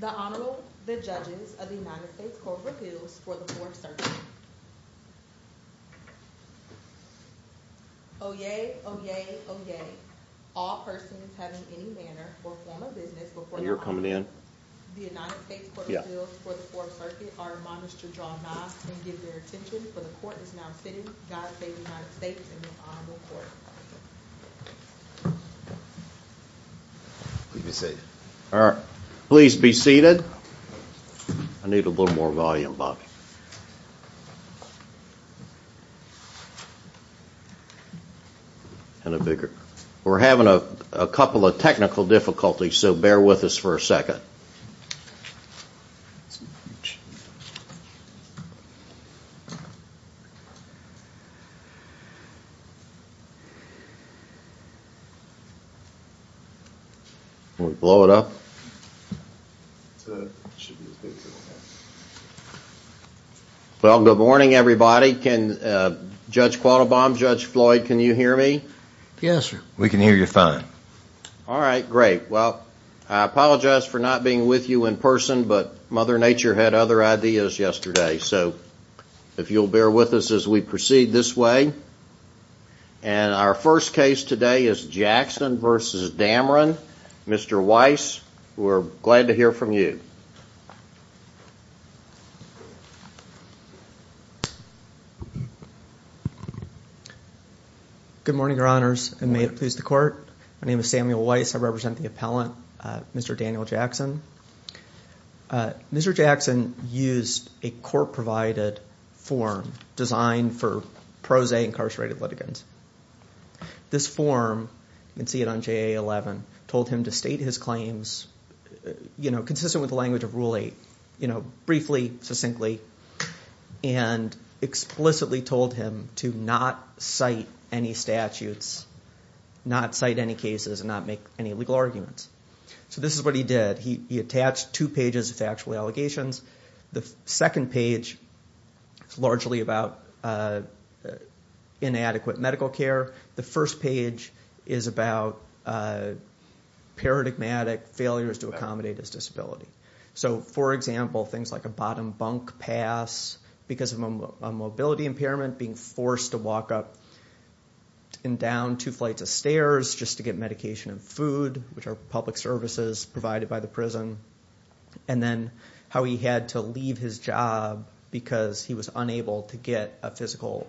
The Honorable, the Judges of the United States Court of Appeals for the Fourth Circuit. Oyez, oyez, oyez. All persons having any manner or form of business before the court. You're coming in. The United States Court of Appeals for the Fourth Circuit are admonished to draw nods and give their attention. For the court is now sitting. God save the United States and the Honorable Court. Please be seated. All right. Please be seated. I need a little more volume, Bobby. And a bigger. We're having a couple of technical difficulties, so bear with us for a second. Can we blow it up? Well, good morning, everybody. Judge Quattlebaum, Judge Floyd, can you hear me? Yes, sir. We can hear you fine. All right, great. Well, I apologize for not being with you in person, but Mother Nature had other ideas yesterday. So if you'll bear with us as we proceed this way. And our first case today is Jackson v. Dameron. Mr. Weiss, we're glad to hear from you. Good morning, Your Honors, and may it please the court. My name is Samuel Weiss. I represent the appellant, Mr. Daniel Jackson. Mr. Jackson used a court-provided form designed for pro se incarcerated litigants. This form, you can see it on JA-11, told him to state his claims consistent with the language of Rule 8, briefly, succinctly, and explicitly told him to not cite any statutes, not cite any cases, and not make any legal arguments. So this is what he did. He attached two pages of factual allegations. The second page is largely about inadequate medical care. The first page is about paradigmatic failures to accommodate his disability. So, for example, things like a bottom bunk pass because of a mobility impairment, being forced to walk up and down two flights of stairs just to get medication and food, which are public services provided by the prison, and then how he had to leave his job because he was unable to get a physical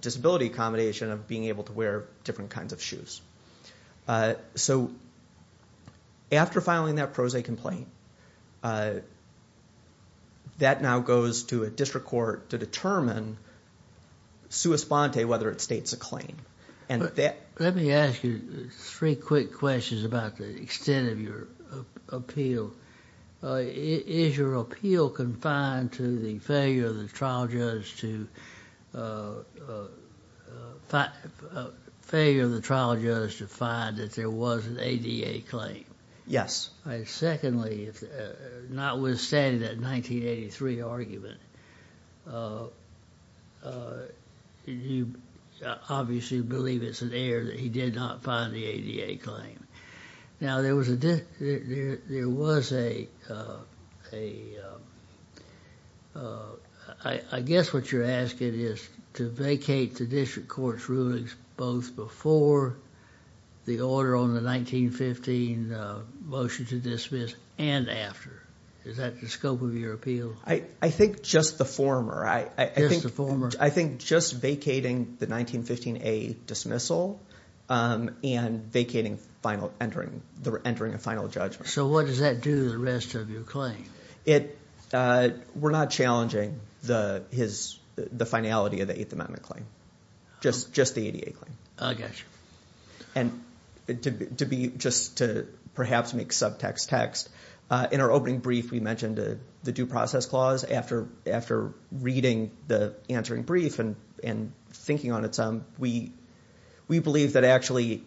disability accommodation of being able to wear different kinds of shoes. So after filing that pro se complaint, that now goes to a district court to determine, sua sponte, whether it states a claim. Let me ask you three quick questions about the extent of your appeal. Is your appeal confined to the failure of the trial judge to find that there was an ADA claim? Yes. Secondly, notwithstanding that 1983 argument, you obviously believe it's an error that he did not find the ADA claim. Now, there was a, I guess what you're asking is to vacate the district court's rulings both before the order on the 1915 motion to dismiss and after. Is that the scope of your appeal? I think just the former. Just the former. And vacating entering a final judgment. So what does that do to the rest of your claim? We're not challenging the finality of the Eighth Amendment claim. Just the ADA claim. I got you. And to perhaps make subtext text, in our opening brief we mentioned the due process clause. After reading the answering brief and thinking on its own, we believe that actually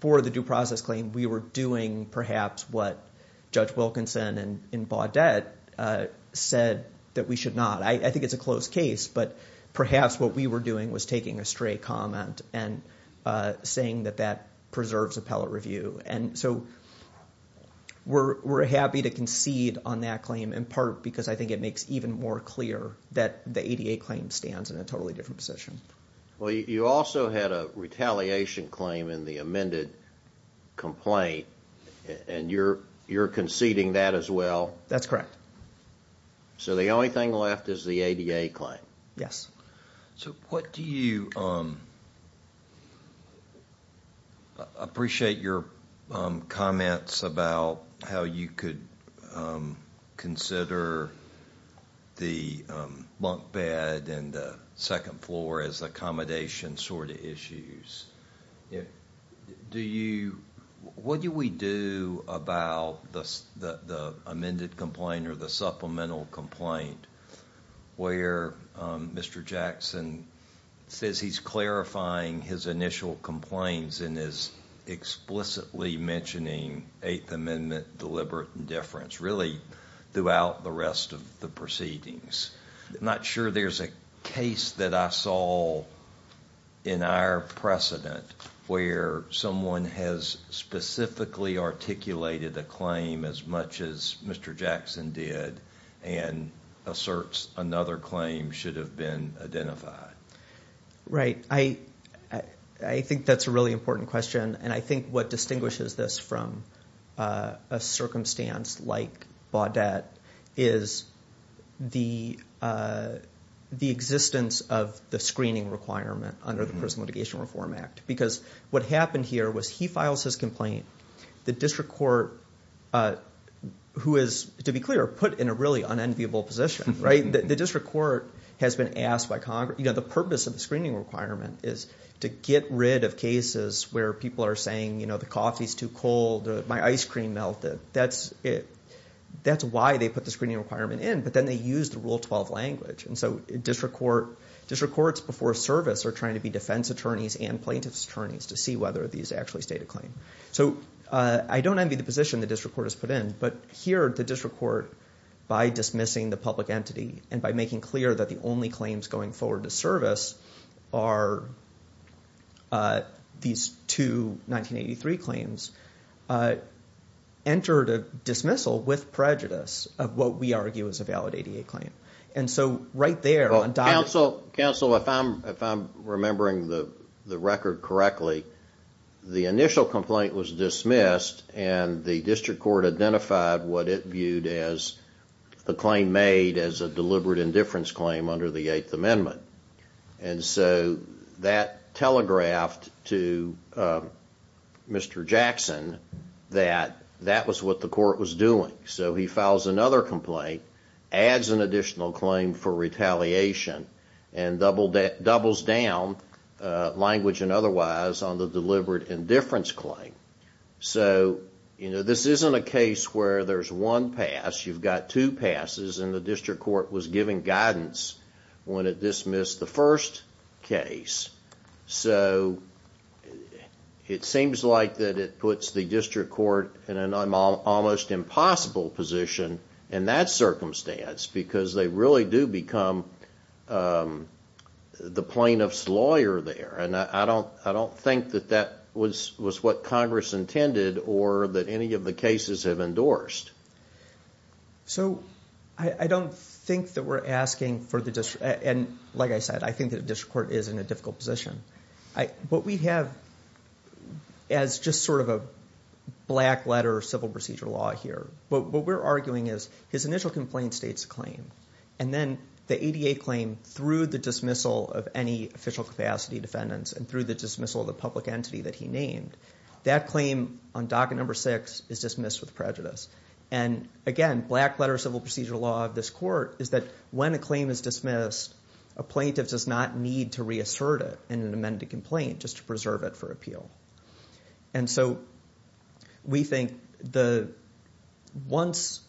for the due process claim we were doing perhaps what Judge Wilkinson in Baudet said that we should not. I think it's a closed case, but perhaps what we were doing was taking a stray comment and saying that that preserves appellate review. And so we're happy to concede on that claim in part because I think it makes even more clear that the ADA claim stands in a totally different position. Well, you also had a retaliation claim in the amended complaint and you're conceding that as well? That's correct. So the only thing left is the ADA claim? Yes. So what do you... I appreciate your comments about how you could consider the bunk bed and the second floor as accommodation sort of issues. What do we do about the amended complaint or the supplemental complaint where Mr. Jackson says he's clarifying his initial complaints and is explicitly mentioning Eighth Amendment deliberate indifference, really, throughout the rest of the proceedings? I'm not sure there's a case that I saw in our precedent where someone has specifically articulated a claim as much as Mr. Jackson did and asserts another claim should have been identified. Right. I think that's a really important question and I think what distinguishes this from a circumstance like Baudet is the existence of the screening requirement under the Personal Mitigation Reform Act. Because what happened here was he files his complaint, the district court, who is, to be clear, put in a really unenviable position. The district court has been asked by Congress... The purpose of the screening requirement is to get rid of cases where people are saying the coffee's too cold or my ice cream melted. That's why they put the screening requirement in, but then they use the Rule 12 language. And so district courts before service are trying to be defense attorneys and plaintiff's attorneys to see whether these actually state a claim. So I don't envy the position the district court has put in, but here the district court, by dismissing the public entity and by making clear that the only claims going forward to service are these two 1983 claims, entered a dismissal with prejudice of what we argue is a valid ADA claim. And so right there... Counsel, if I'm remembering the record correctly, the initial complaint was dismissed and the district court identified what it viewed as the claim made as a deliberate indifference claim under the Eighth Amendment. And so that telegraphed to Mr. Jackson that that was what the court was doing. So he files another complaint, adds an additional claim for retaliation, and doubles down, language and otherwise, on the deliberate indifference claim. So this isn't a case where there's one pass. You've got two passes, and the district court was giving guidance when it dismissed the first case. So it seems like it puts the district court in an almost impossible position in that circumstance because they really do become the plaintiff's lawyer there. And I don't think that that was what Congress intended or that any of the cases have endorsed. So I don't think that we're asking for the district... And like I said, I think the district court is in a difficult position. What we have as just sort of a black letter civil procedure law here, what we're arguing is his initial complaint states a claim. And then the ADA claim, through the dismissal of any official capacity defendants and through the dismissal of the public entity that he named, that claim on docket number six is dismissed with prejudice. And again, black letter civil procedure law of this court is that when a claim is dismissed, a plaintiff does not need to reassert it in an amended complaint just to preserve it for appeal. And so we think once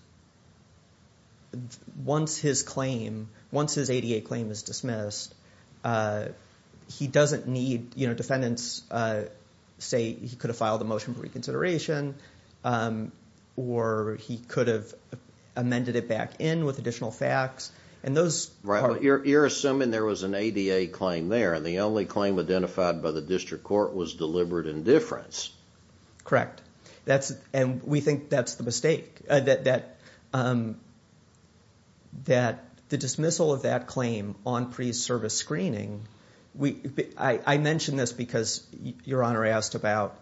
his claim, once his ADA claim is dismissed, he doesn't need defendants say he could have filed a motion for reconsideration or he could have amended it back in with additional facts. You're assuming there was an ADA claim there and the only claim identified by the district court was deliberate indifference. Correct. And we think that's the mistake. That the dismissal of that claim on pre-service screening, I mention this because Your Honor asked about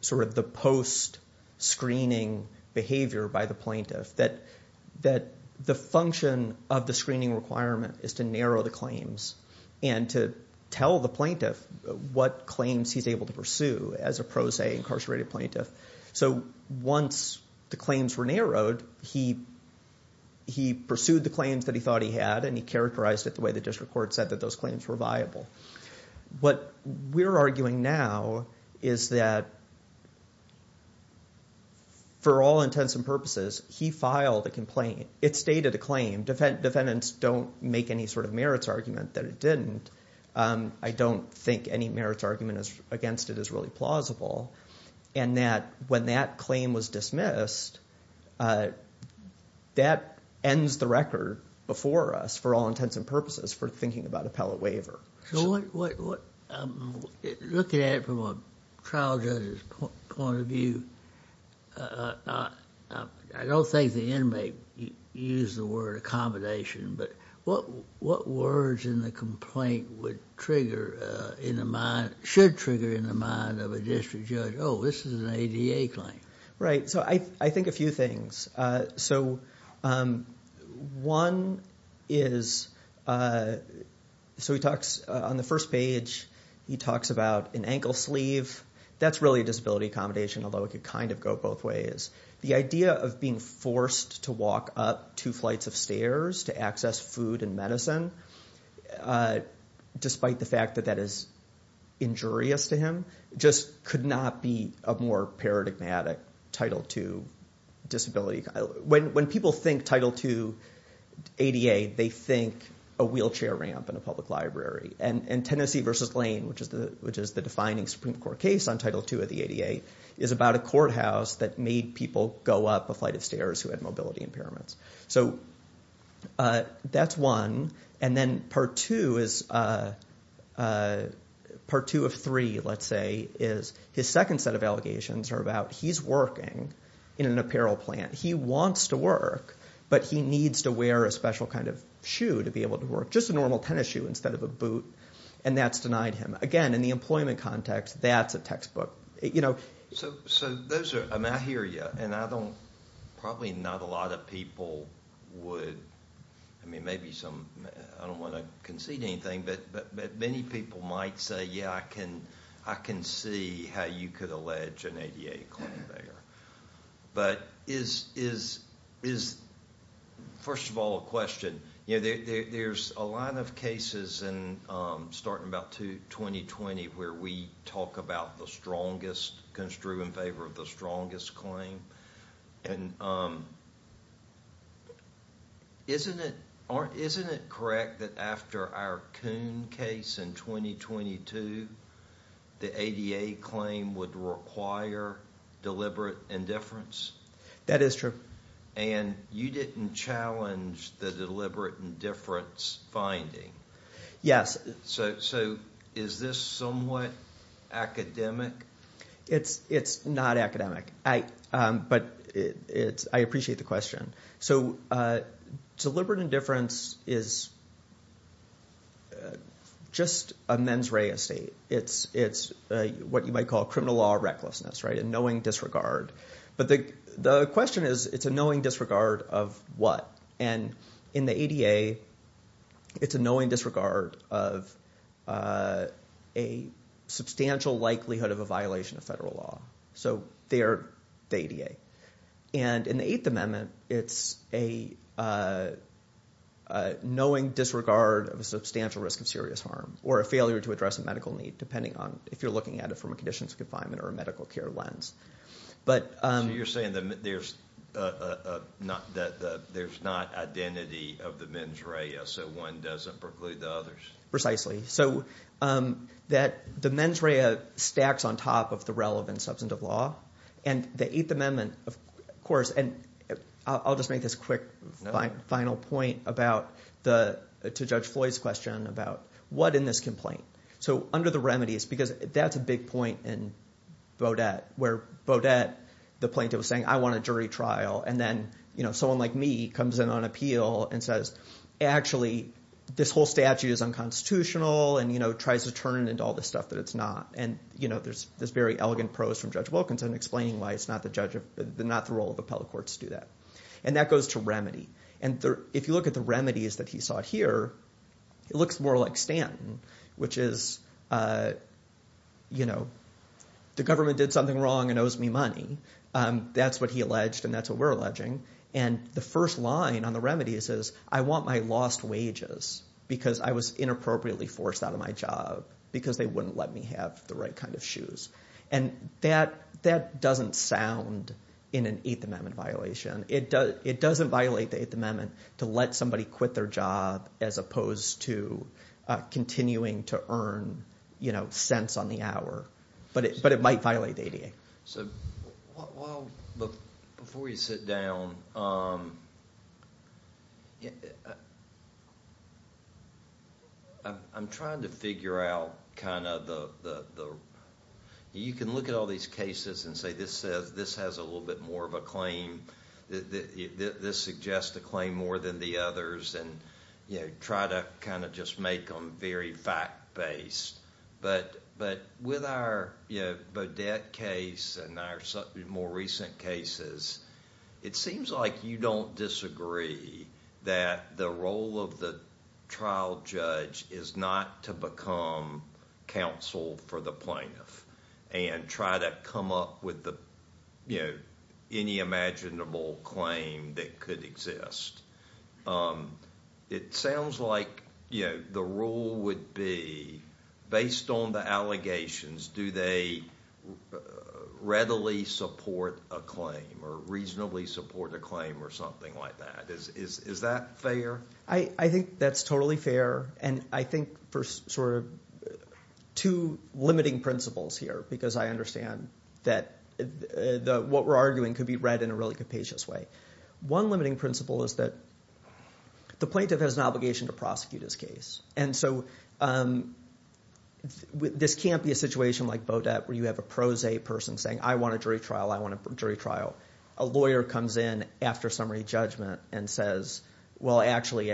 sort of the post-screening behavior by the plaintiff. That the function of the screening requirement is to narrow the claims and to tell the plaintiff what claims he's able to pursue as a pro se incarcerated plaintiff. So once the claims were narrowed, he pursued the claims that he thought he had and he characterized it the way the district court said that those claims were viable. What we're arguing now is that for all intents and purposes, he filed a complaint. It stated a claim. Defendants don't make any sort of merits argument that it didn't. I don't think any merits argument against it is really plausible. And that when that claim was dismissed, that ends the record before us for all intents and purposes for thinking about appellate waiver. Looking at it from a trial judge's point of view, I don't think the inmate used the word accommodation. But what words in the complaint should trigger in the mind of a district judge, oh, this is an ADA claim? Right. So I think a few things. So one is so he talks on the first page, he talks about an ankle sleeve. That's really a disability accommodation, although it could kind of go both ways. The idea of being forced to walk up two flights of stairs to access food and medicine, despite the fact that that is injurious to him, just could not be a more paradigmatic Title II disability. When people think Title II ADA, they think a wheelchair ramp in a public library. And Tennessee versus Lane, which is the defining Supreme Court case on Title II of the ADA, is about a courthouse that made people go up a flight of stairs who had mobility impairments. So that's one. And then part two of three, let's say, is his second set of allegations are about he's working in an apparel plant. He wants to work, but he needs to wear a special kind of shoe to be able to work, just a normal tennis shoe instead of a boot. And that's denied him. Again, in the employment context, that's a textbook. So I hear you. And probably not a lot of people would, I mean, maybe some, I don't want to concede anything, but many people might say, yeah, I can see how you could allege an ADA claim there. But is, first of all, a question. There's a lot of cases starting about 2020 where we talk about the strongest, construe in favor of the strongest claim. And isn't it correct that after our Coon case in 2022, the ADA claim would require deliberate indifference? That is true. And you didn't challenge the deliberate indifference finding. Yes. So is this somewhat academic? It's not academic. But I appreciate the question. So deliberate indifference is just a mens rea estate. It's what you might call criminal law recklessness, right, a knowing disregard. But the question is, it's a knowing disregard of what? And in the ADA, it's a knowing disregard of a substantial likelihood of a violation of federal law. So they are the ADA. And in the Eighth Amendment, it's a knowing disregard of a substantial risk of serious harm or a failure to address a medical need, depending on if you're looking at it from a conditions of confinement or a medical care lens. So you're saying that there's not identity of the mens rea, so one doesn't preclude the others? Precisely. So that the mens rea stacks on top of the relevant substantive law. And the Eighth Amendment, of course, and I'll just make this quick final point about the – to Judge Floyd's question about what in this complaint. So under the remedies – because that's a big point in Beaudet where Beaudet, the plaintiff, was saying, I want a jury trial. And then someone like me comes in on appeal and says, actually, this whole statute is unconstitutional and tries to turn it into all this stuff that it's not. And there's this very elegant prose from Judge Wilkinson explaining why it's not the role of appellate courts to do that. And that goes to remedy. And if you look at the remedies that he sought here, it looks more like Stanton, which is the government did something wrong and owes me money. That's what he alleged and that's what we're alleging. And the first line on the remedies is I want my lost wages because I was inappropriately forced out of my job because they wouldn't let me have the right kind of shoes. And that doesn't sound in an Eighth Amendment violation. It doesn't violate the Eighth Amendment to let somebody quit their job as opposed to continuing to earn cents on the hour. But it might violate the ADA. So while, before you sit down, I'm trying to figure out kind of the, you can look at all these cases and say this has a little bit more of a claim. This suggests a claim more than the others. And try to kind of just make them very fact-based. But with our Bodette case and our more recent cases, it seems like you don't disagree that the role of the trial judge is not to become counsel for the plaintiff. And try to come up with any imaginable claim that could exist. It sounds like the rule would be based on the allegations, do they readily support a claim or reasonably support a claim or something like that. Is that fair? I think that's totally fair. And I think for sort of two limiting principles here because I understand that what we're arguing could be read in a really capacious way. But one limiting principle is that the plaintiff has an obligation to prosecute his case. And so this can't be a situation like Bodette where you have a pro se person saying, I want a jury trial. I want a jury trial. A lawyer comes in after summary judgment and says, well, actually,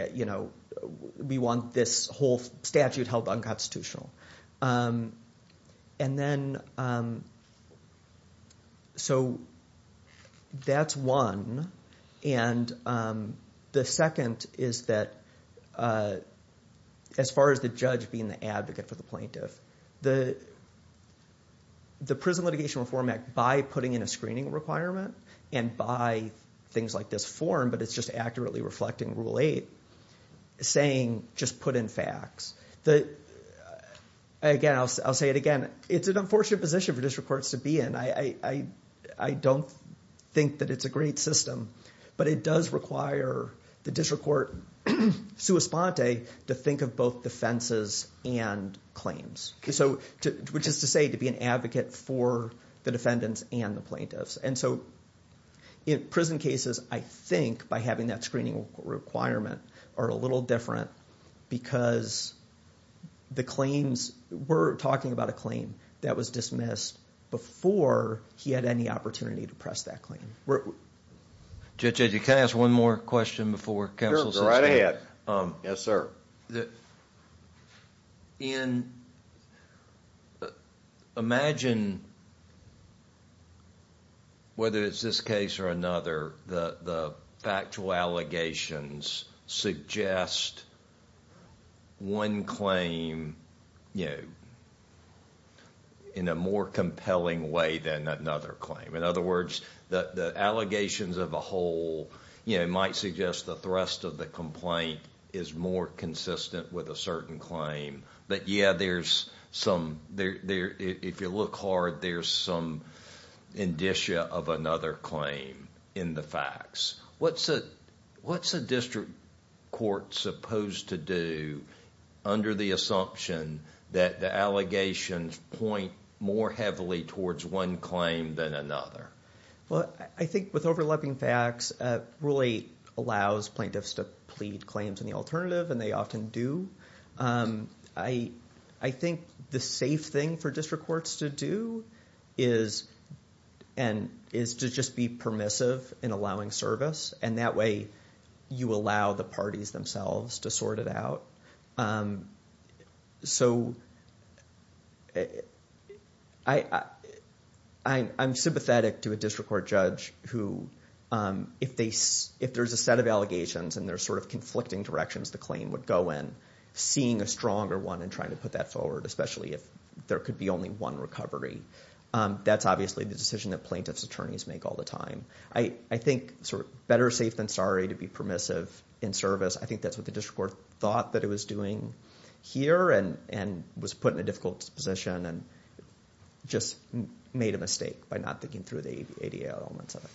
we want this whole statute held unconstitutional. And then so that's one. And the second is that as far as the judge being the advocate for the plaintiff, the Prison Litigation Reform Act, by putting in a screening requirement and by things like this form, but it's just accurately reflecting Rule 8, saying just put in facts. Again, I'll say it again. It's an unfortunate position for district courts to be in. I don't think that it's a great system. But it does require the district court sua sponte to think of both defenses and claims, which is to say to be an advocate for the defendants and the plaintiffs. And so in prison cases, I think by having that screening requirement are a little different because the claims, we're talking about a claim that was dismissed before he had any opportunity to press that claim. Judge, can I ask one more question before counsel says anything? Sure, go right ahead. Yes, sir. Ian, imagine whether it's this case or another, the factual allegations suggest one claim in a more compelling way than another claim. In other words, the allegations of a whole might suggest that the rest of the complaint is more consistent with a certain claim. But yeah, if you look hard, there's some indicia of another claim in the facts. What's a district court supposed to do under the assumption that the allegations point more heavily towards one claim than another? Well, I think with overlapping facts, it really allows plaintiffs to plead claims in the alternative, and they often do. I think the safe thing for district courts to do is to just be permissive in allowing service, and that way you allow the parties themselves to sort it out. So I'm sympathetic to a district court judge who, if there's a set of allegations and there's sort of conflicting directions the claim would go in, seeing a stronger one and trying to put that forward, especially if there could be only one recovery, that's obviously the decision that plaintiffs' attorneys make all the time. I think better safe than sorry to be permissive in service, I think that's what the district court thought that it was doing here, and was put in a difficult position and just made a mistake by not thinking through the ADA elements of it.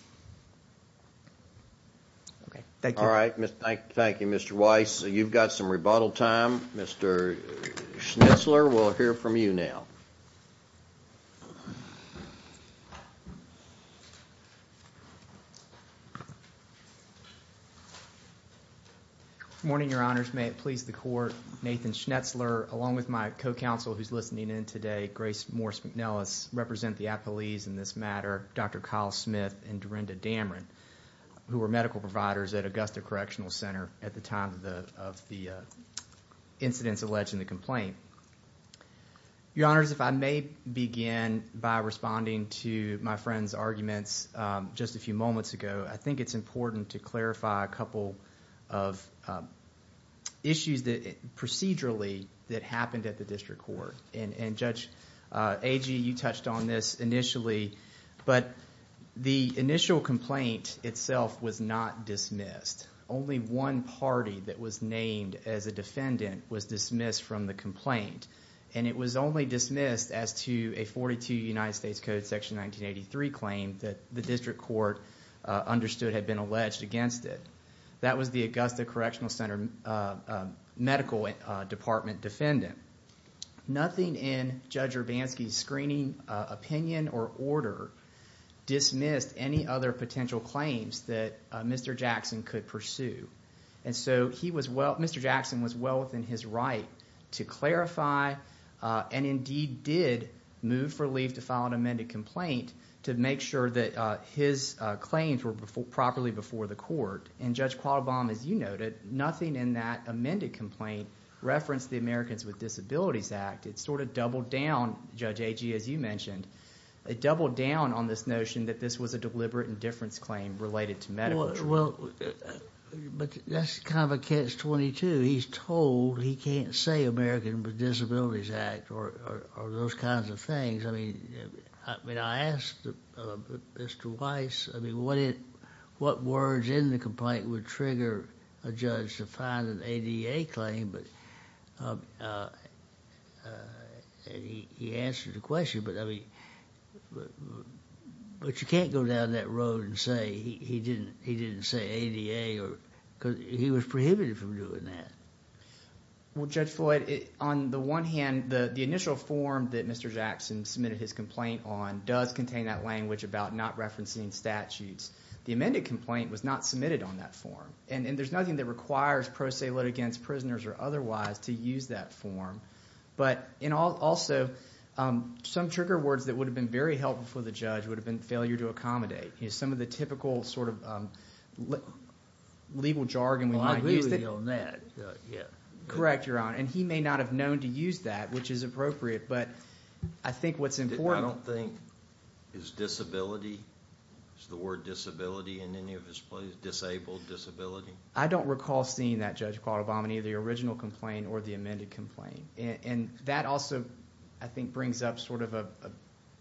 All right, thank you, Mr. Weiss. You've got some rebuttal time. Mr. Schnitzler, we'll hear from you now. Good morning, Your Honors. May it please the Court, Nathan Schnitzler, along with my co-counsel who's listening in today, Grace Morse McNellis, represent the appellees in this matter, Dr. Kyle Smith and Dorinda Damron, who were medical providers at Augusta Correctional Center at the time of the incidents alleged in the complaint. Your Honors, if I may begin by responding to my friend's arguments just a few moments ago, I think it's important to clarify a couple of issues procedurally that happened at the district court. And Judge Agee, you touched on this initially, but the initial complaint itself was not dismissed. Only one party that was named as a defendant was dismissed from the complaint, and it was only dismissed as to a 42 United States Code Section 1983 claim that the district court understood had been alleged against it. That was the Augusta Correctional Center medical department defendant. Nothing in Judge Urbanski's screening opinion or order dismissed any other potential claims that Mr. Jackson could pursue. And so he was – Mr. Jackson was well within his right to clarify and indeed did move for leave to file an amended complaint to make sure that his claims were properly before the court. And Judge Qualbom, as you noted, nothing in that amended complaint referenced the Americans with Disabilities Act. It sort of doubled down, Judge Agee, as you mentioned. It doubled down on this notion that this was a deliberate indifference claim related to medical treatment. Well, but that's kind of a catch-22. He's told he can't say Americans with Disabilities Act or those kinds of things. I mean I asked Mr. Weiss, I mean what words in the complaint would trigger a judge to file an ADA claim, and he answered the question. But you can't go down that road and say he didn't say ADA because he was prohibited from doing that. Well, Judge Floyd, on the one hand, the initial form that Mr. Jackson submitted his complaint on does contain that language about not referencing statutes. The amended complaint was not submitted on that form, and there's nothing that requires pro se litigants, prisoners, or otherwise to use that form. But also some trigger words that would have been very helpful for the judge would have been failure to accommodate. Some of the typical sort of legal jargon we might use. Correct, Your Honor, and he may not have known to use that, which is appropriate. But I think what's important. I don't think, is disability, is the word disability in any of his claims, disabled disability? I don't recall seeing that, Judge Qualabamany, the original complaint or the amended complaint. And that also, I think, brings up sort of a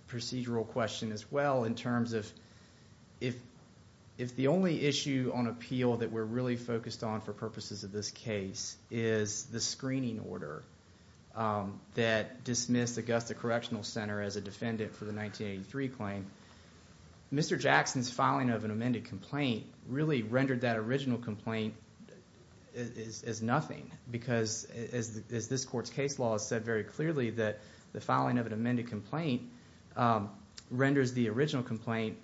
procedural question as well in terms of if the only issue on appeal that we're really focused on for purposes of this case is the screening order that dismissed Augusta Correctional Center as a defendant for the 1983 claim. Mr. Jackson's filing of an amended complaint really rendered that original complaint as nothing. Because as this court's case law has said very clearly that the filing of an amended complaint renders the original complaint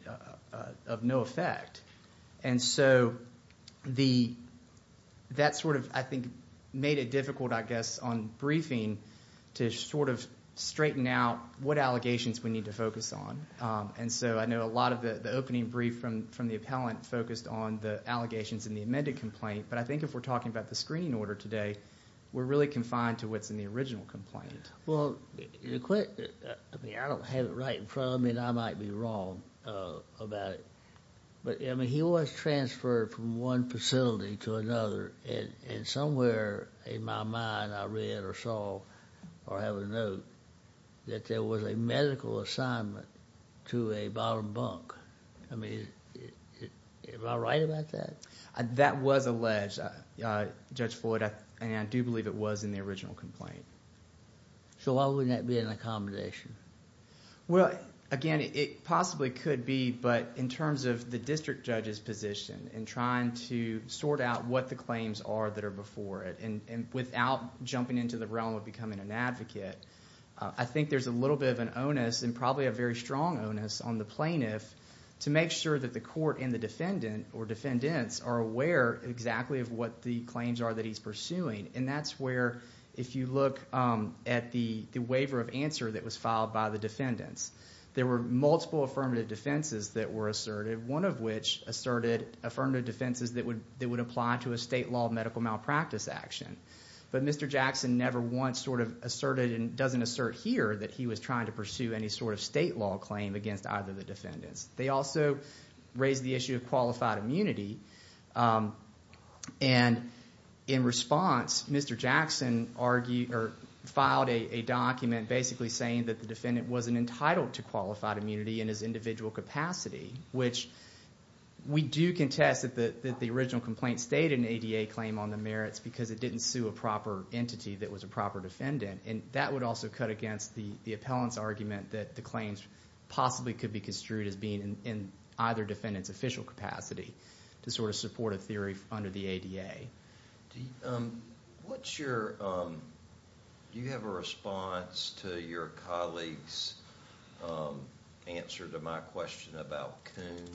of no effect. And so that sort of, I think, made it difficult, I guess, on briefing to sort of straighten out what allegations we need to focus on. And so I know a lot of the opening brief from the appellant focused on the allegations in the amended complaint. But I think if we're talking about the screening order today, we're really confined to what's in the original complaint. Well, I don't have it right in front of me, and I might be wrong about it. But he was transferred from one facility to another. And somewhere in my mind, I read or saw or have a note that there was a medical assignment to a bottom bunk. I mean, am I right about that? That was alleged, Judge Floyd. And I do believe it was in the original complaint. So why wouldn't that be an accommodation? Well, again, it possibly could be. But in terms of the district judge's position in trying to sort out what the claims are that are before it and without jumping into the realm of becoming an advocate, I think there's a little bit of an onus and probably a very strong onus on the plaintiff to make sure that the court and the defendant or defendants are aware exactly of what the claims are that he's pursuing. And that's where, if you look at the waiver of answer that was filed by the defendants, there were multiple affirmative defenses that were asserted, one of which asserted affirmative defenses that would apply to a state law medical malpractice action. But Mr. Jackson never once sort of asserted and doesn't assert here that he was trying to pursue any sort of state law claim against either of the defendants. They also raised the issue of qualified immunity. And in response, Mr. Jackson filed a document basically saying that the defendant wasn't entitled to qualified immunity in his individual capacity, which we do contest that the original complaint stated an ADA claim on the merits because it didn't sue a proper entity that was a proper defendant. And that would also cut against the appellant's argument that the claims possibly could be construed as being in either defendant's official capacity to sort of support a theory under the ADA. What's your, do you have a response to your colleague's answer to my question about Coon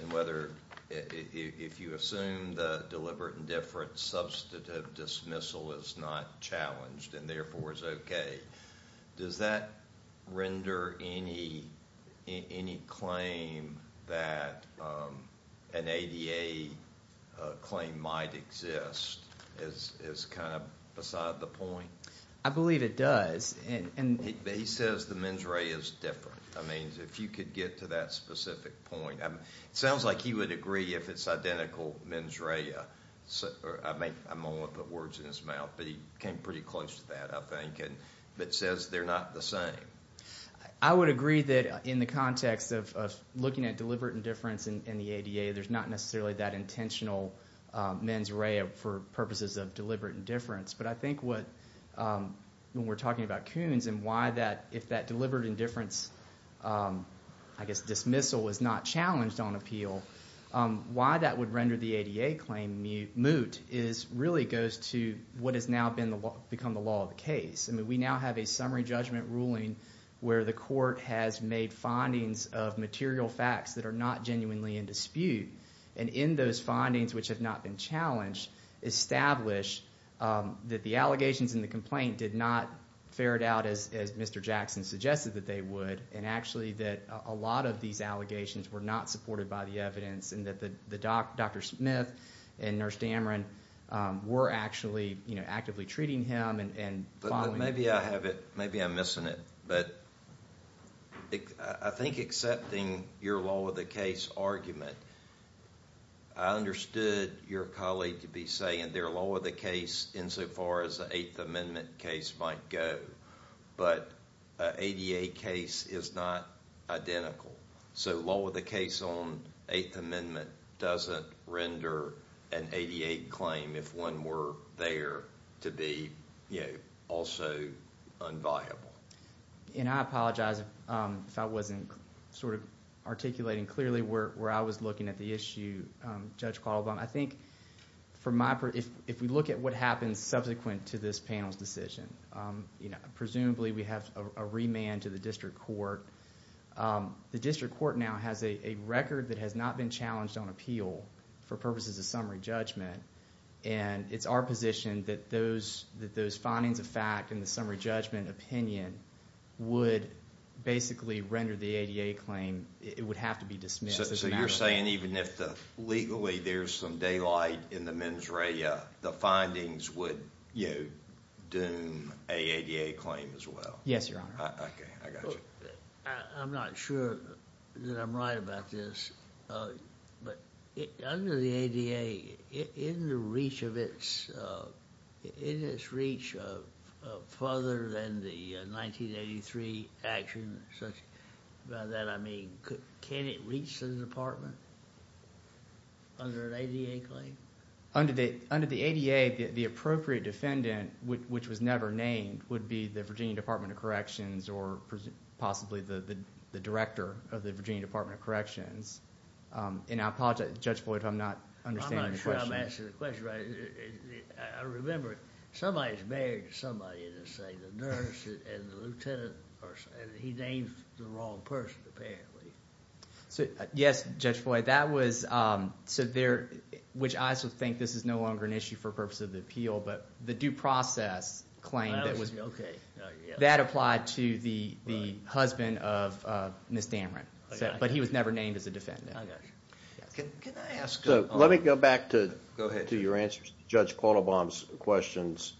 and whether, if you assume the deliberate indifference, substantive dismissal is not challenged and therefore is okay, does that render any claim that an ADA claim might exist as kind of beside the point? I believe it does. He says the mens rea is different. I mean, if you could get to that specific point. It sounds like he would agree if it's identical mens rea. I'm only going to put words in his mouth, but he came pretty close to that, I think. But it says they're not the same. I would agree that in the context of looking at deliberate indifference in the ADA, there's not necessarily that intentional mens rea for purposes of deliberate indifference. But I think what, when we're talking about Coons and why that, if that deliberate indifference, I guess dismissal, was not challenged on appeal, why that would render the ADA claim moot really goes to what has now become the law of the case. I mean, we now have a summary judgment ruling where the court has made findings of material facts that are not genuinely in dispute. And in those findings, which have not been challenged, establish that the allegations in the complaint did not ferret out, as Mr. Jackson suggested that they would, and actually that a lot of these allegations were not supported by the evidence and that Dr. Smith and Nurse Dameron were actually actively treating him and following him. Maybe I have it, maybe I'm missing it, but I think accepting your law of the case argument, I understood your colleague to be saying their law of the case insofar as the Eighth Amendment case might go, but an ADA case is not identical. So law of the case on Eighth Amendment doesn't render an ADA claim, if one were there, to be also unviable. And I apologize if I wasn't sort of articulating clearly where I was looking at the issue, Judge Quattlebaum. I think, for my part, if we look at what happens subsequent to this panel's decision, presumably we have a remand to the district court. The district court now has a record that has not been challenged on appeal for purposes of summary judgment, and it's our position that those findings of fact and the summary judgment opinion would basically render the ADA claim, it would have to be dismissed. So you're saying even if legally there's some daylight in the mens rea, the findings would doom a ADA claim as well? Yes, Your Honor. Okay, I got you. I'm not sure that I'm right about this, but under the ADA, in its reach of further than the 1983 action, by that I mean, can it reach the department under an ADA claim? Under the ADA, the appropriate defendant, which was never named, would be the Virginia Department of Corrections or possibly the director of the Virginia Department of Corrections. And I apologize, Judge Boyd, if I'm not understanding the question. I'm not sure I'm answering the question right. I remember somebody's married to somebody, and they say the nurse and the lieutenant, and he named the wrong person apparently. Yes, Judge Boyd, that was, which I also think this is no longer an issue for purposes of the appeal, but the due process claim, that applied to the husband of Ms. Dameron, but he was never named as a defendant. I got you. Can I ask? Let me go back to your answer to Judge Quattlebaum's questions.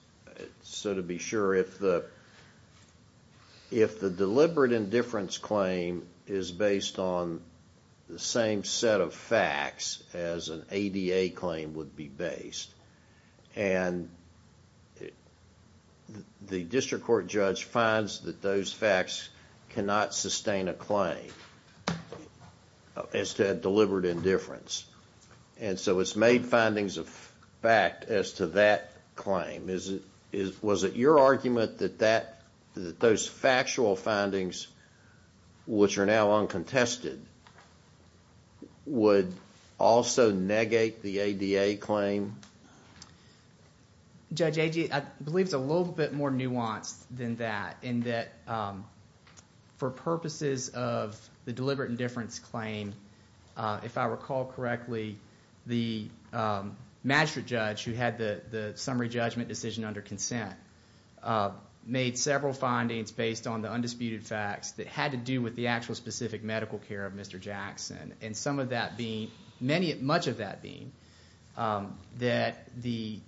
So to be sure, if the deliberate indifference claim is based on the same set of facts as an ADA claim would be based, and the district court judge finds that those facts cannot sustain a claim as to deliberate indifference. And so it's made findings of fact as to that claim. Was it your argument that those factual findings, which are now uncontested, would also negate the ADA claim? Judge Agee, I believe it's a little bit more nuanced than that in that for purposes of the deliberate indifference claim, if I recall correctly, the magistrate judge who had the summary judgment decision under consent, made several findings based on the undisputed facts that had to do with the actual specific medical care of Mr. Jackson, and some of that being, much of that being that the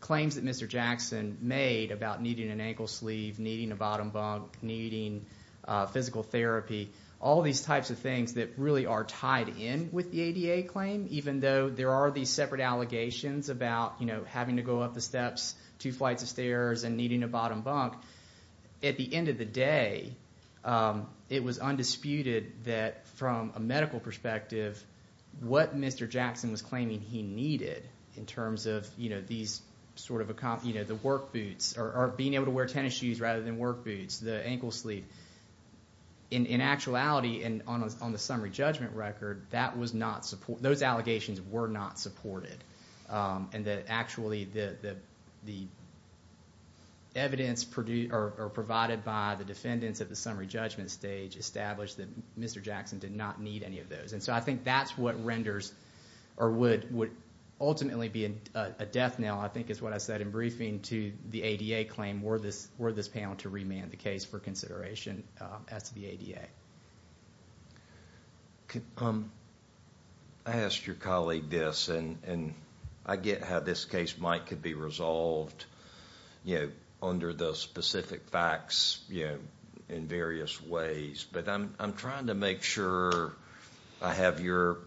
claims that Mr. Jackson made about needing an ankle sleeve, needing a bottom bunk, needing physical therapy, all these types of things that really are tied in with the ADA claim, even though there are these separate allegations about having to go up the steps, two flights of stairs, and needing a bottom bunk. At the end of the day, it was undisputed that from a medical perspective, what Mr. Jackson was claiming he needed in terms of these sort of the work boots, or being able to wear tennis shoes rather than work boots, the ankle sleeve, in actuality and on the summary judgment record, those allegations were not supported. And actually the evidence provided by the defendants at the summary judgment stage established that Mr. Jackson did not need any of those. And so I think that's what renders or would ultimately be a death knell, I think is what I said in briefing, to the ADA claim were this panel to remand the case for consideration as to the ADA. I asked your colleague this, and I get how this case might could be resolved under the specific facts in various ways, but I'm trying to make sure I have your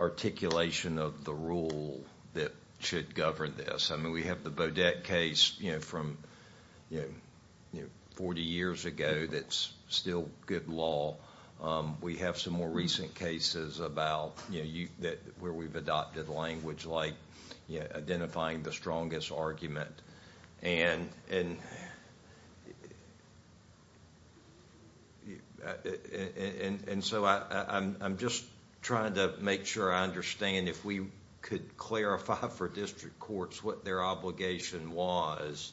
articulation of the rule that should govern this. I mean, we have the Bodette case from 40 years ago that's still good law. We have some more recent cases about where we've adopted language like identifying the strongest argument. And so I'm just trying to make sure I understand if we could clarify for district courts what their obligation was.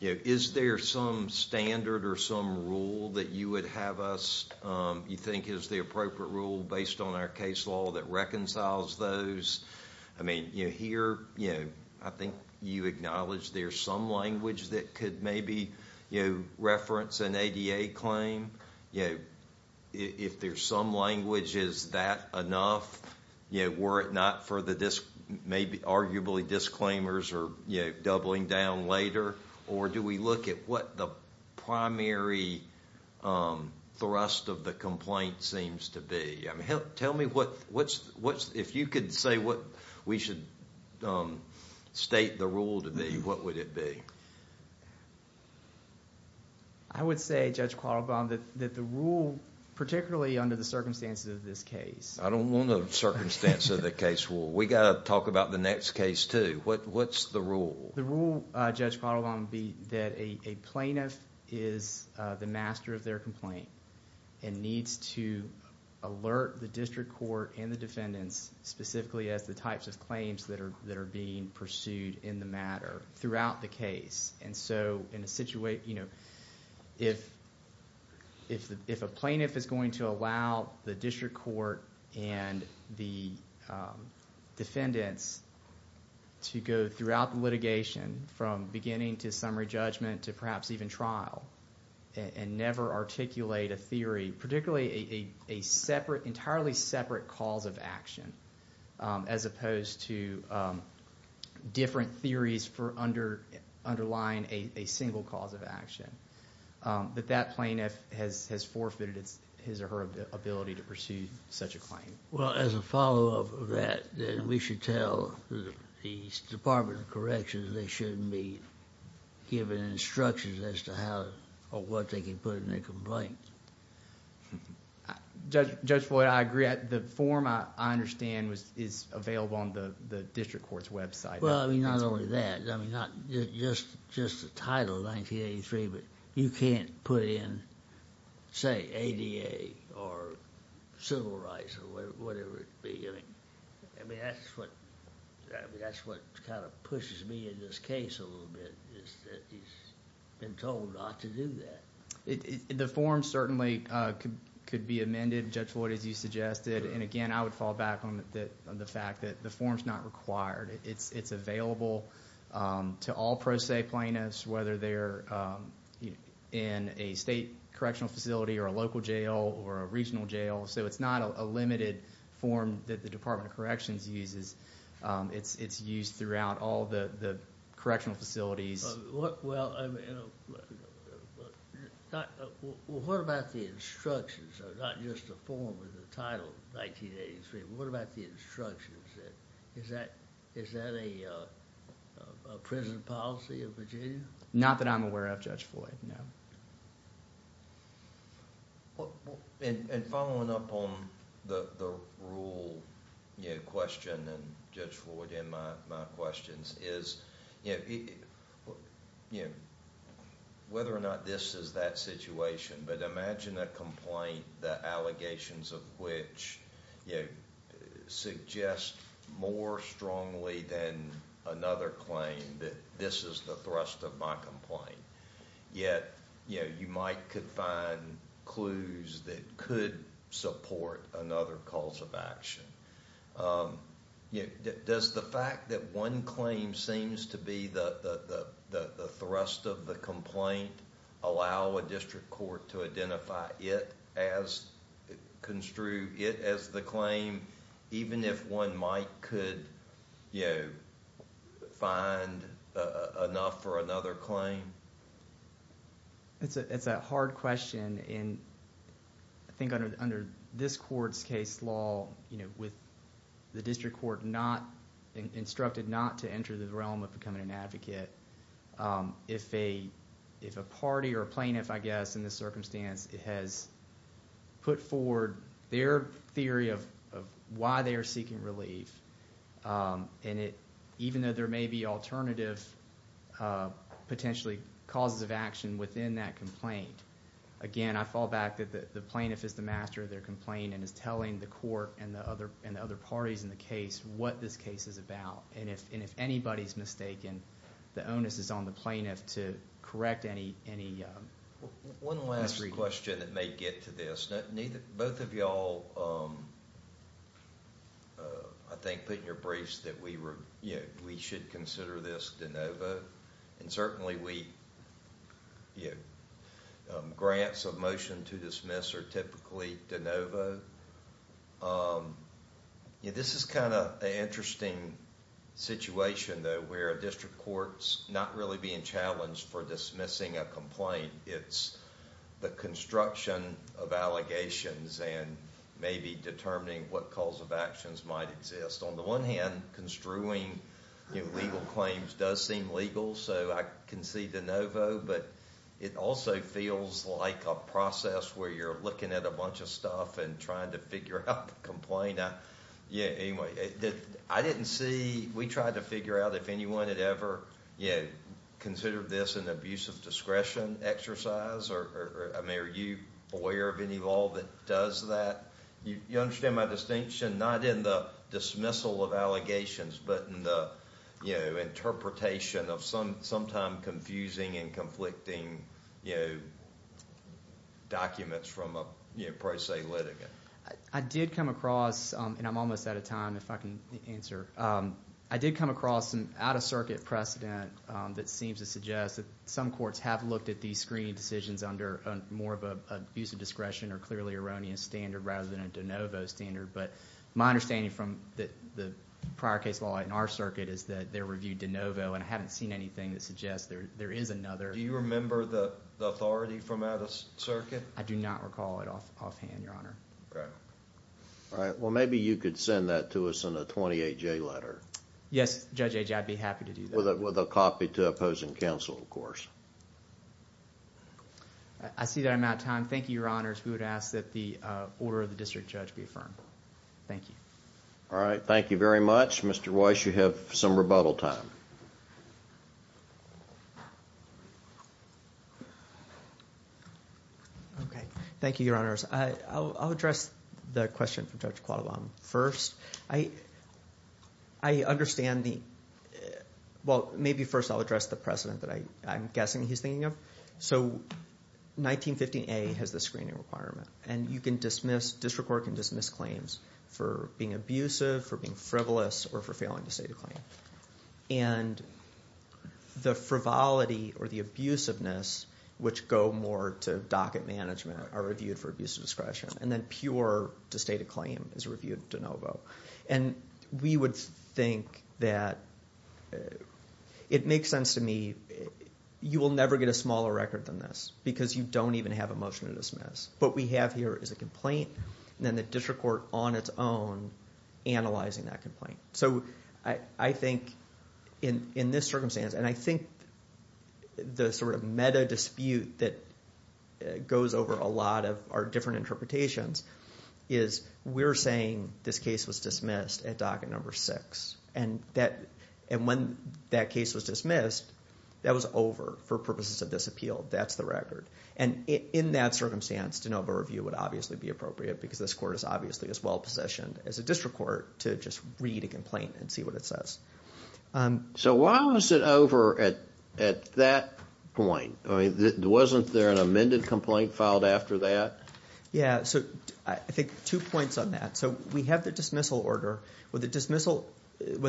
Is there some standard or some rule that you would have us, you think is the appropriate rule based on our case law that reconciles those? I mean, here I think you acknowledge there's some language that could maybe reference an ADA claim. If there's some language, is that enough? Were it not for the maybe arguably disclaimers or doubling down later? Or do we look at what the primary thrust of the complaint seems to be? Tell me, if you could say what we should state the rule to be, what would it be? I would say, Judge Quattlebaum, that the rule, particularly under the circumstances of this case. I don't want the circumstances of the case rule. We've got to talk about the next case too. What's the rule? The rule, Judge Quattlebaum, would be that a plaintiff is the master of their complaint and needs to alert the district court and the defendants specifically as the types of claims that are being pursued in the matter throughout the case. If a plaintiff is going to allow the district court and the defendants to go throughout the litigation, from beginning to summary judgment to perhaps even trial, and never articulate a theory, particularly an entirely separate cause of action, as opposed to different theories underlying a single cause of action, that that plaintiff has forfeited his or her ability to pursue such a claim. As a follow-up to that, we should tell the Department of Corrections they shouldn't be given instructions as to what they can put in their complaint. Judge Floyd, I agree. The form, I understand, is available on the district court's website. Well, I mean, not only that. I mean, not just the title, 1983, but you can't put in, say, ADA or civil rights or whatever it be. I mean, that's what kind of pushes me in this case a little bit, is that he's been told not to do that. The form certainly could be amended, Judge Floyd, as you suggested. And again, I would fall back on the fact that the form's not required. It's available to all pro se plaintiffs, whether they're in a state correctional facility or a local jail or a regional jail. So it's not a limited form that the Department of Corrections uses. It's used throughout all the correctional facilities. Well, what about the instructions? Not just the form and the title, 1983. What about the instructions? Is that a prison policy of Virginia? Not that I'm aware of, Judge Floyd, no. And following up on the rule question, and Judge Floyd, in my questions, is whether or not this is that situation. But imagine a complaint, the allegations of which suggest more strongly than another claim that this is the thrust of my complaint. Yet you might find clues that could support another cause of action. Does the fact that one claim seems to be the thrust of the complaint allow a district court to identify it as the claim, even if one might could find enough for another claim? It's a hard question, and I think under this court's case law, with the district court instructed not to enter the realm of becoming an advocate, if a party or plaintiff, I guess, in this circumstance has put forward their theory of why they are seeking relief, and even though there may be alternative potentially causes of action within that complaint, again, I fall back that the plaintiff is the master of their complaint and is telling the court and the other parties in the case what this case is about. And if anybody's mistaken, the onus is on the plaintiff to correct any misreading. One last question that may get to this. Both of y'all, I think, put in your briefs that we should consider this de novo, and certainly grants of motion to dismiss are typically de novo. This is kind of an interesting situation, though, where a district court's not really being challenged for dismissing a complaint. It's the construction of allegations and maybe determining what cause of actions might exist. On the one hand, construing legal claims does seem legal, so I concede de novo, but it also feels like a process where you're looking at a bunch of stuff and trying to figure out the complaint. Anyway, I didn't see, we tried to figure out if anyone had ever considered this an abuse of discretion exercise. I mean, are you aware of any law that does that? You understand my distinction, not in the dismissal of allegations, but in the interpretation of sometimes confusing and conflicting documents from a, per se, litigant. I did come across, and I'm almost out of time, if I can answer. I did come across some out-of-circuit precedent that seems to suggest that some courts have looked at these screening decisions under more of an abuse of discretion or clearly erroneous standard rather than a de novo standard, but my understanding from the prior case law in our circuit is that they're reviewed de novo, and I haven't seen anything that suggests there is another. Do you remember the authority from out-of-circuit? I do not recall it offhand, Your Honor. All right. Well, maybe you could send that to us in a 28-J letter. Yes, Judge, I'd be happy to do that. With a copy to opposing counsel, of course. I see that I'm out of time. Thank you, Your Honors. We would ask that the order of the district judge be affirmed. Thank you. All right. Thank you very much. Mr. Weiss, you have some rebuttal time. Okay. Thank you, Your Honors. I'll address the question from Judge Quattlebaum first. I understand the – well, maybe first I'll address the precedent that I'm guessing he's thinking of. So 1915A has the screening requirement, and you can dismiss – district court can dismiss claims for being abusive, for being frivolous, or for failing to state a claim. And the frivolity or the abusiveness, which go more to docket management, are reviewed for abuse of discretion. And then pure to state a claim is reviewed de novo. And we would think that – it makes sense to me. You will never get a smaller record than this because you don't even have a motion to dismiss. What we have here is a complaint, and then the district court on its own analyzing that complaint. So I think in this circumstance, and I think the sort of meta dispute that goes over a lot of our different interpretations is we're saying this case was dismissed at docket number six. And when that case was dismissed, that was over for purposes of this appeal. That's the record. And in that circumstance, de novo review would obviously be appropriate because this court is obviously as well-possessioned as a district court to just read a complaint and see what it says. So why was it over at that point? I mean, wasn't there an amended complaint filed after that? Yeah, so I think two points on that. So we have the dismissal order with the dismissal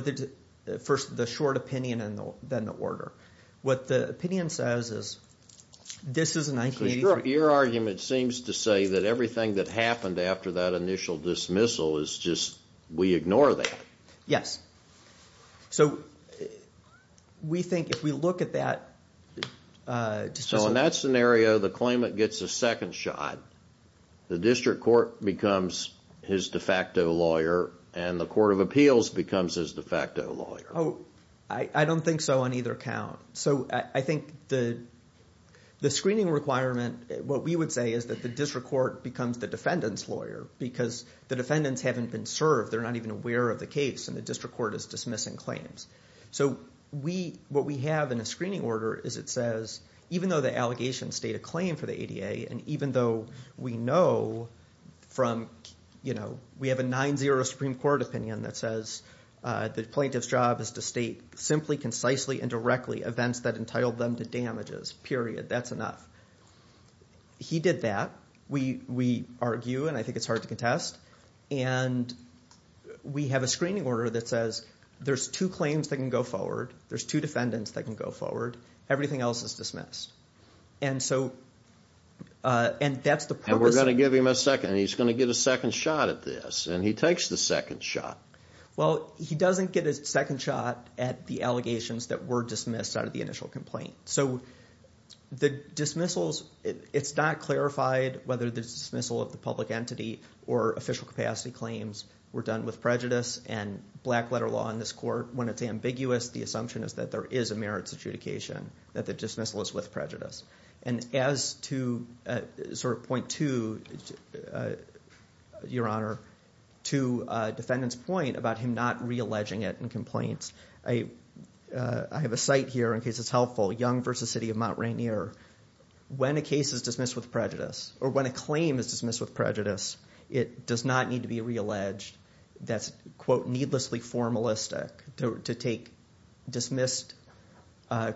– first the short opinion and then the order. What the opinion says is this is a 1983 – So your argument seems to say that everything that happened after that initial dismissal is just – we ignore that. Yes. So we think if we look at that – So in that scenario, the claimant gets a second shot. The district court becomes his de facto lawyer, and the court of appeals becomes his de facto lawyer. I don't think so on either count. So I think the screening requirement – what we would say is that the district court becomes the defendant's lawyer because the defendants haven't been served. They're not even aware of the case, and the district court is dismissing claims. So what we have in a screening order is it says even though the allegations state a claim for the ADA and even though we know from – we have a 9-0 Supreme Court opinion that says the plaintiff's job is to state simply, concisely, and directly events that entitled them to damages, period. That's enough. He did that. We argue, and I think it's hard to contest. And we have a screening order that says there's two claims that can go forward. There's two defendants that can go forward. Everything else is dismissed. And so – and that's the purpose – And we're going to give him a second. He's going to get a second shot at this, and he takes the second shot. Well, he doesn't get a second shot at the allegations that were dismissed out of the initial complaint. So the dismissals – it's not clarified whether the dismissal of the public entity or official capacity claims were done with prejudice and black letter law in this court. When it's ambiguous, the assumption is that there is a merits adjudication, that the dismissal is with prejudice. And as to sort of point two, Your Honor, to defendant's point about him not re-alleging it in complaints, I have a cite here in case it's helpful, Young v. City of Mount Rainier. When a case is dismissed with prejudice, or when a claim is dismissed with prejudice, it does not need to be re-alleged. That's, quote, needlessly formalistic to take dismissed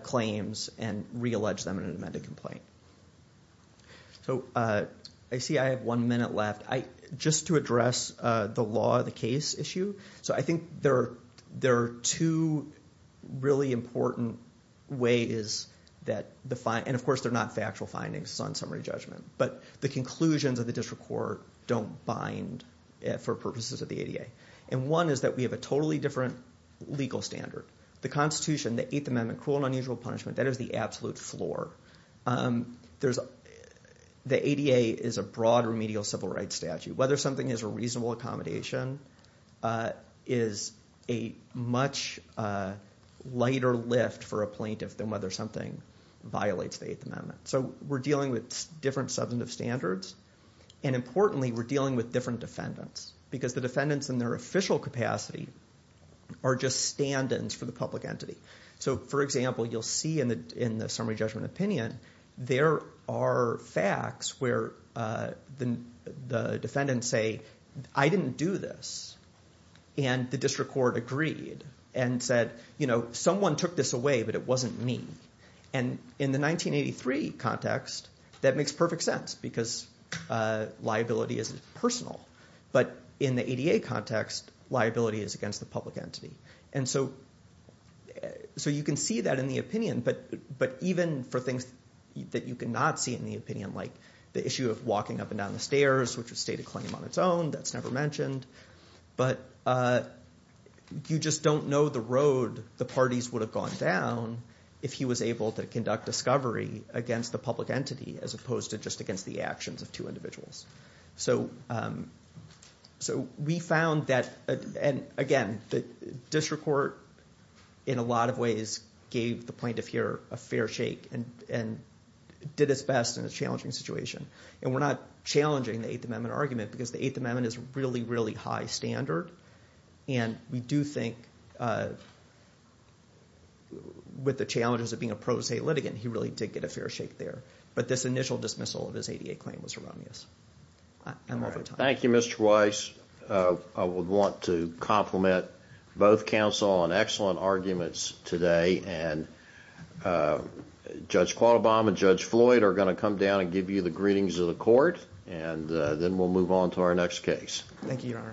claims and re-allege them in an amended complaint. So I see I have one minute left. Just to address the law of the case issue. So I think there are two really important ways that the – and, of course, they're not factual findings. It's on summary judgment. But the conclusions of the district court don't bind for purposes of the ADA. And one is that we have a totally different legal standard. The Constitution, the Eighth Amendment, cruel and unusual punishment, that is the absolute floor. The ADA is a broad remedial civil rights statute. Whether something is a reasonable accommodation is a much lighter lift for a plaintiff than whether something violates the Eighth Amendment. So we're dealing with different substantive standards. And importantly, we're dealing with different defendants because the defendants in their official capacity are just stand-ins for the public entity. So, for example, you'll see in the summary judgment opinion, there are facts where the defendants say, I didn't do this. And the district court agreed and said, someone took this away, but it wasn't me. And in the 1983 context, that makes perfect sense because liability is personal. But in the ADA context, liability is against the public entity. And so you can see that in the opinion, but even for things that you cannot see in the opinion, like the issue of walking up and down the stairs, which is a state of claim on its own. That's never mentioned. But you just don't know the road the parties would have gone down if he was able to conduct discovery against the public entity as opposed to just against the actions of two individuals. So we found that, and again, the district court in a lot of ways gave the plaintiff here a fair shake and did its best in a challenging situation. And we're not challenging the Eighth Amendment argument because the Eighth Amendment is a really, really high standard. And we do think, with the challenges of being a pro se litigant, he really did get a fair shake there. But this initial dismissal of his ADA claim was erroneous. I'm over time. Thank you, Mr. Weiss. I would want to compliment both counsel on excellent arguments today. And Judge Quattlebaum and Judge Floyd are going to come down and give you the greetings of the court. And then we'll move on to our next case. Thank you, Your Honors.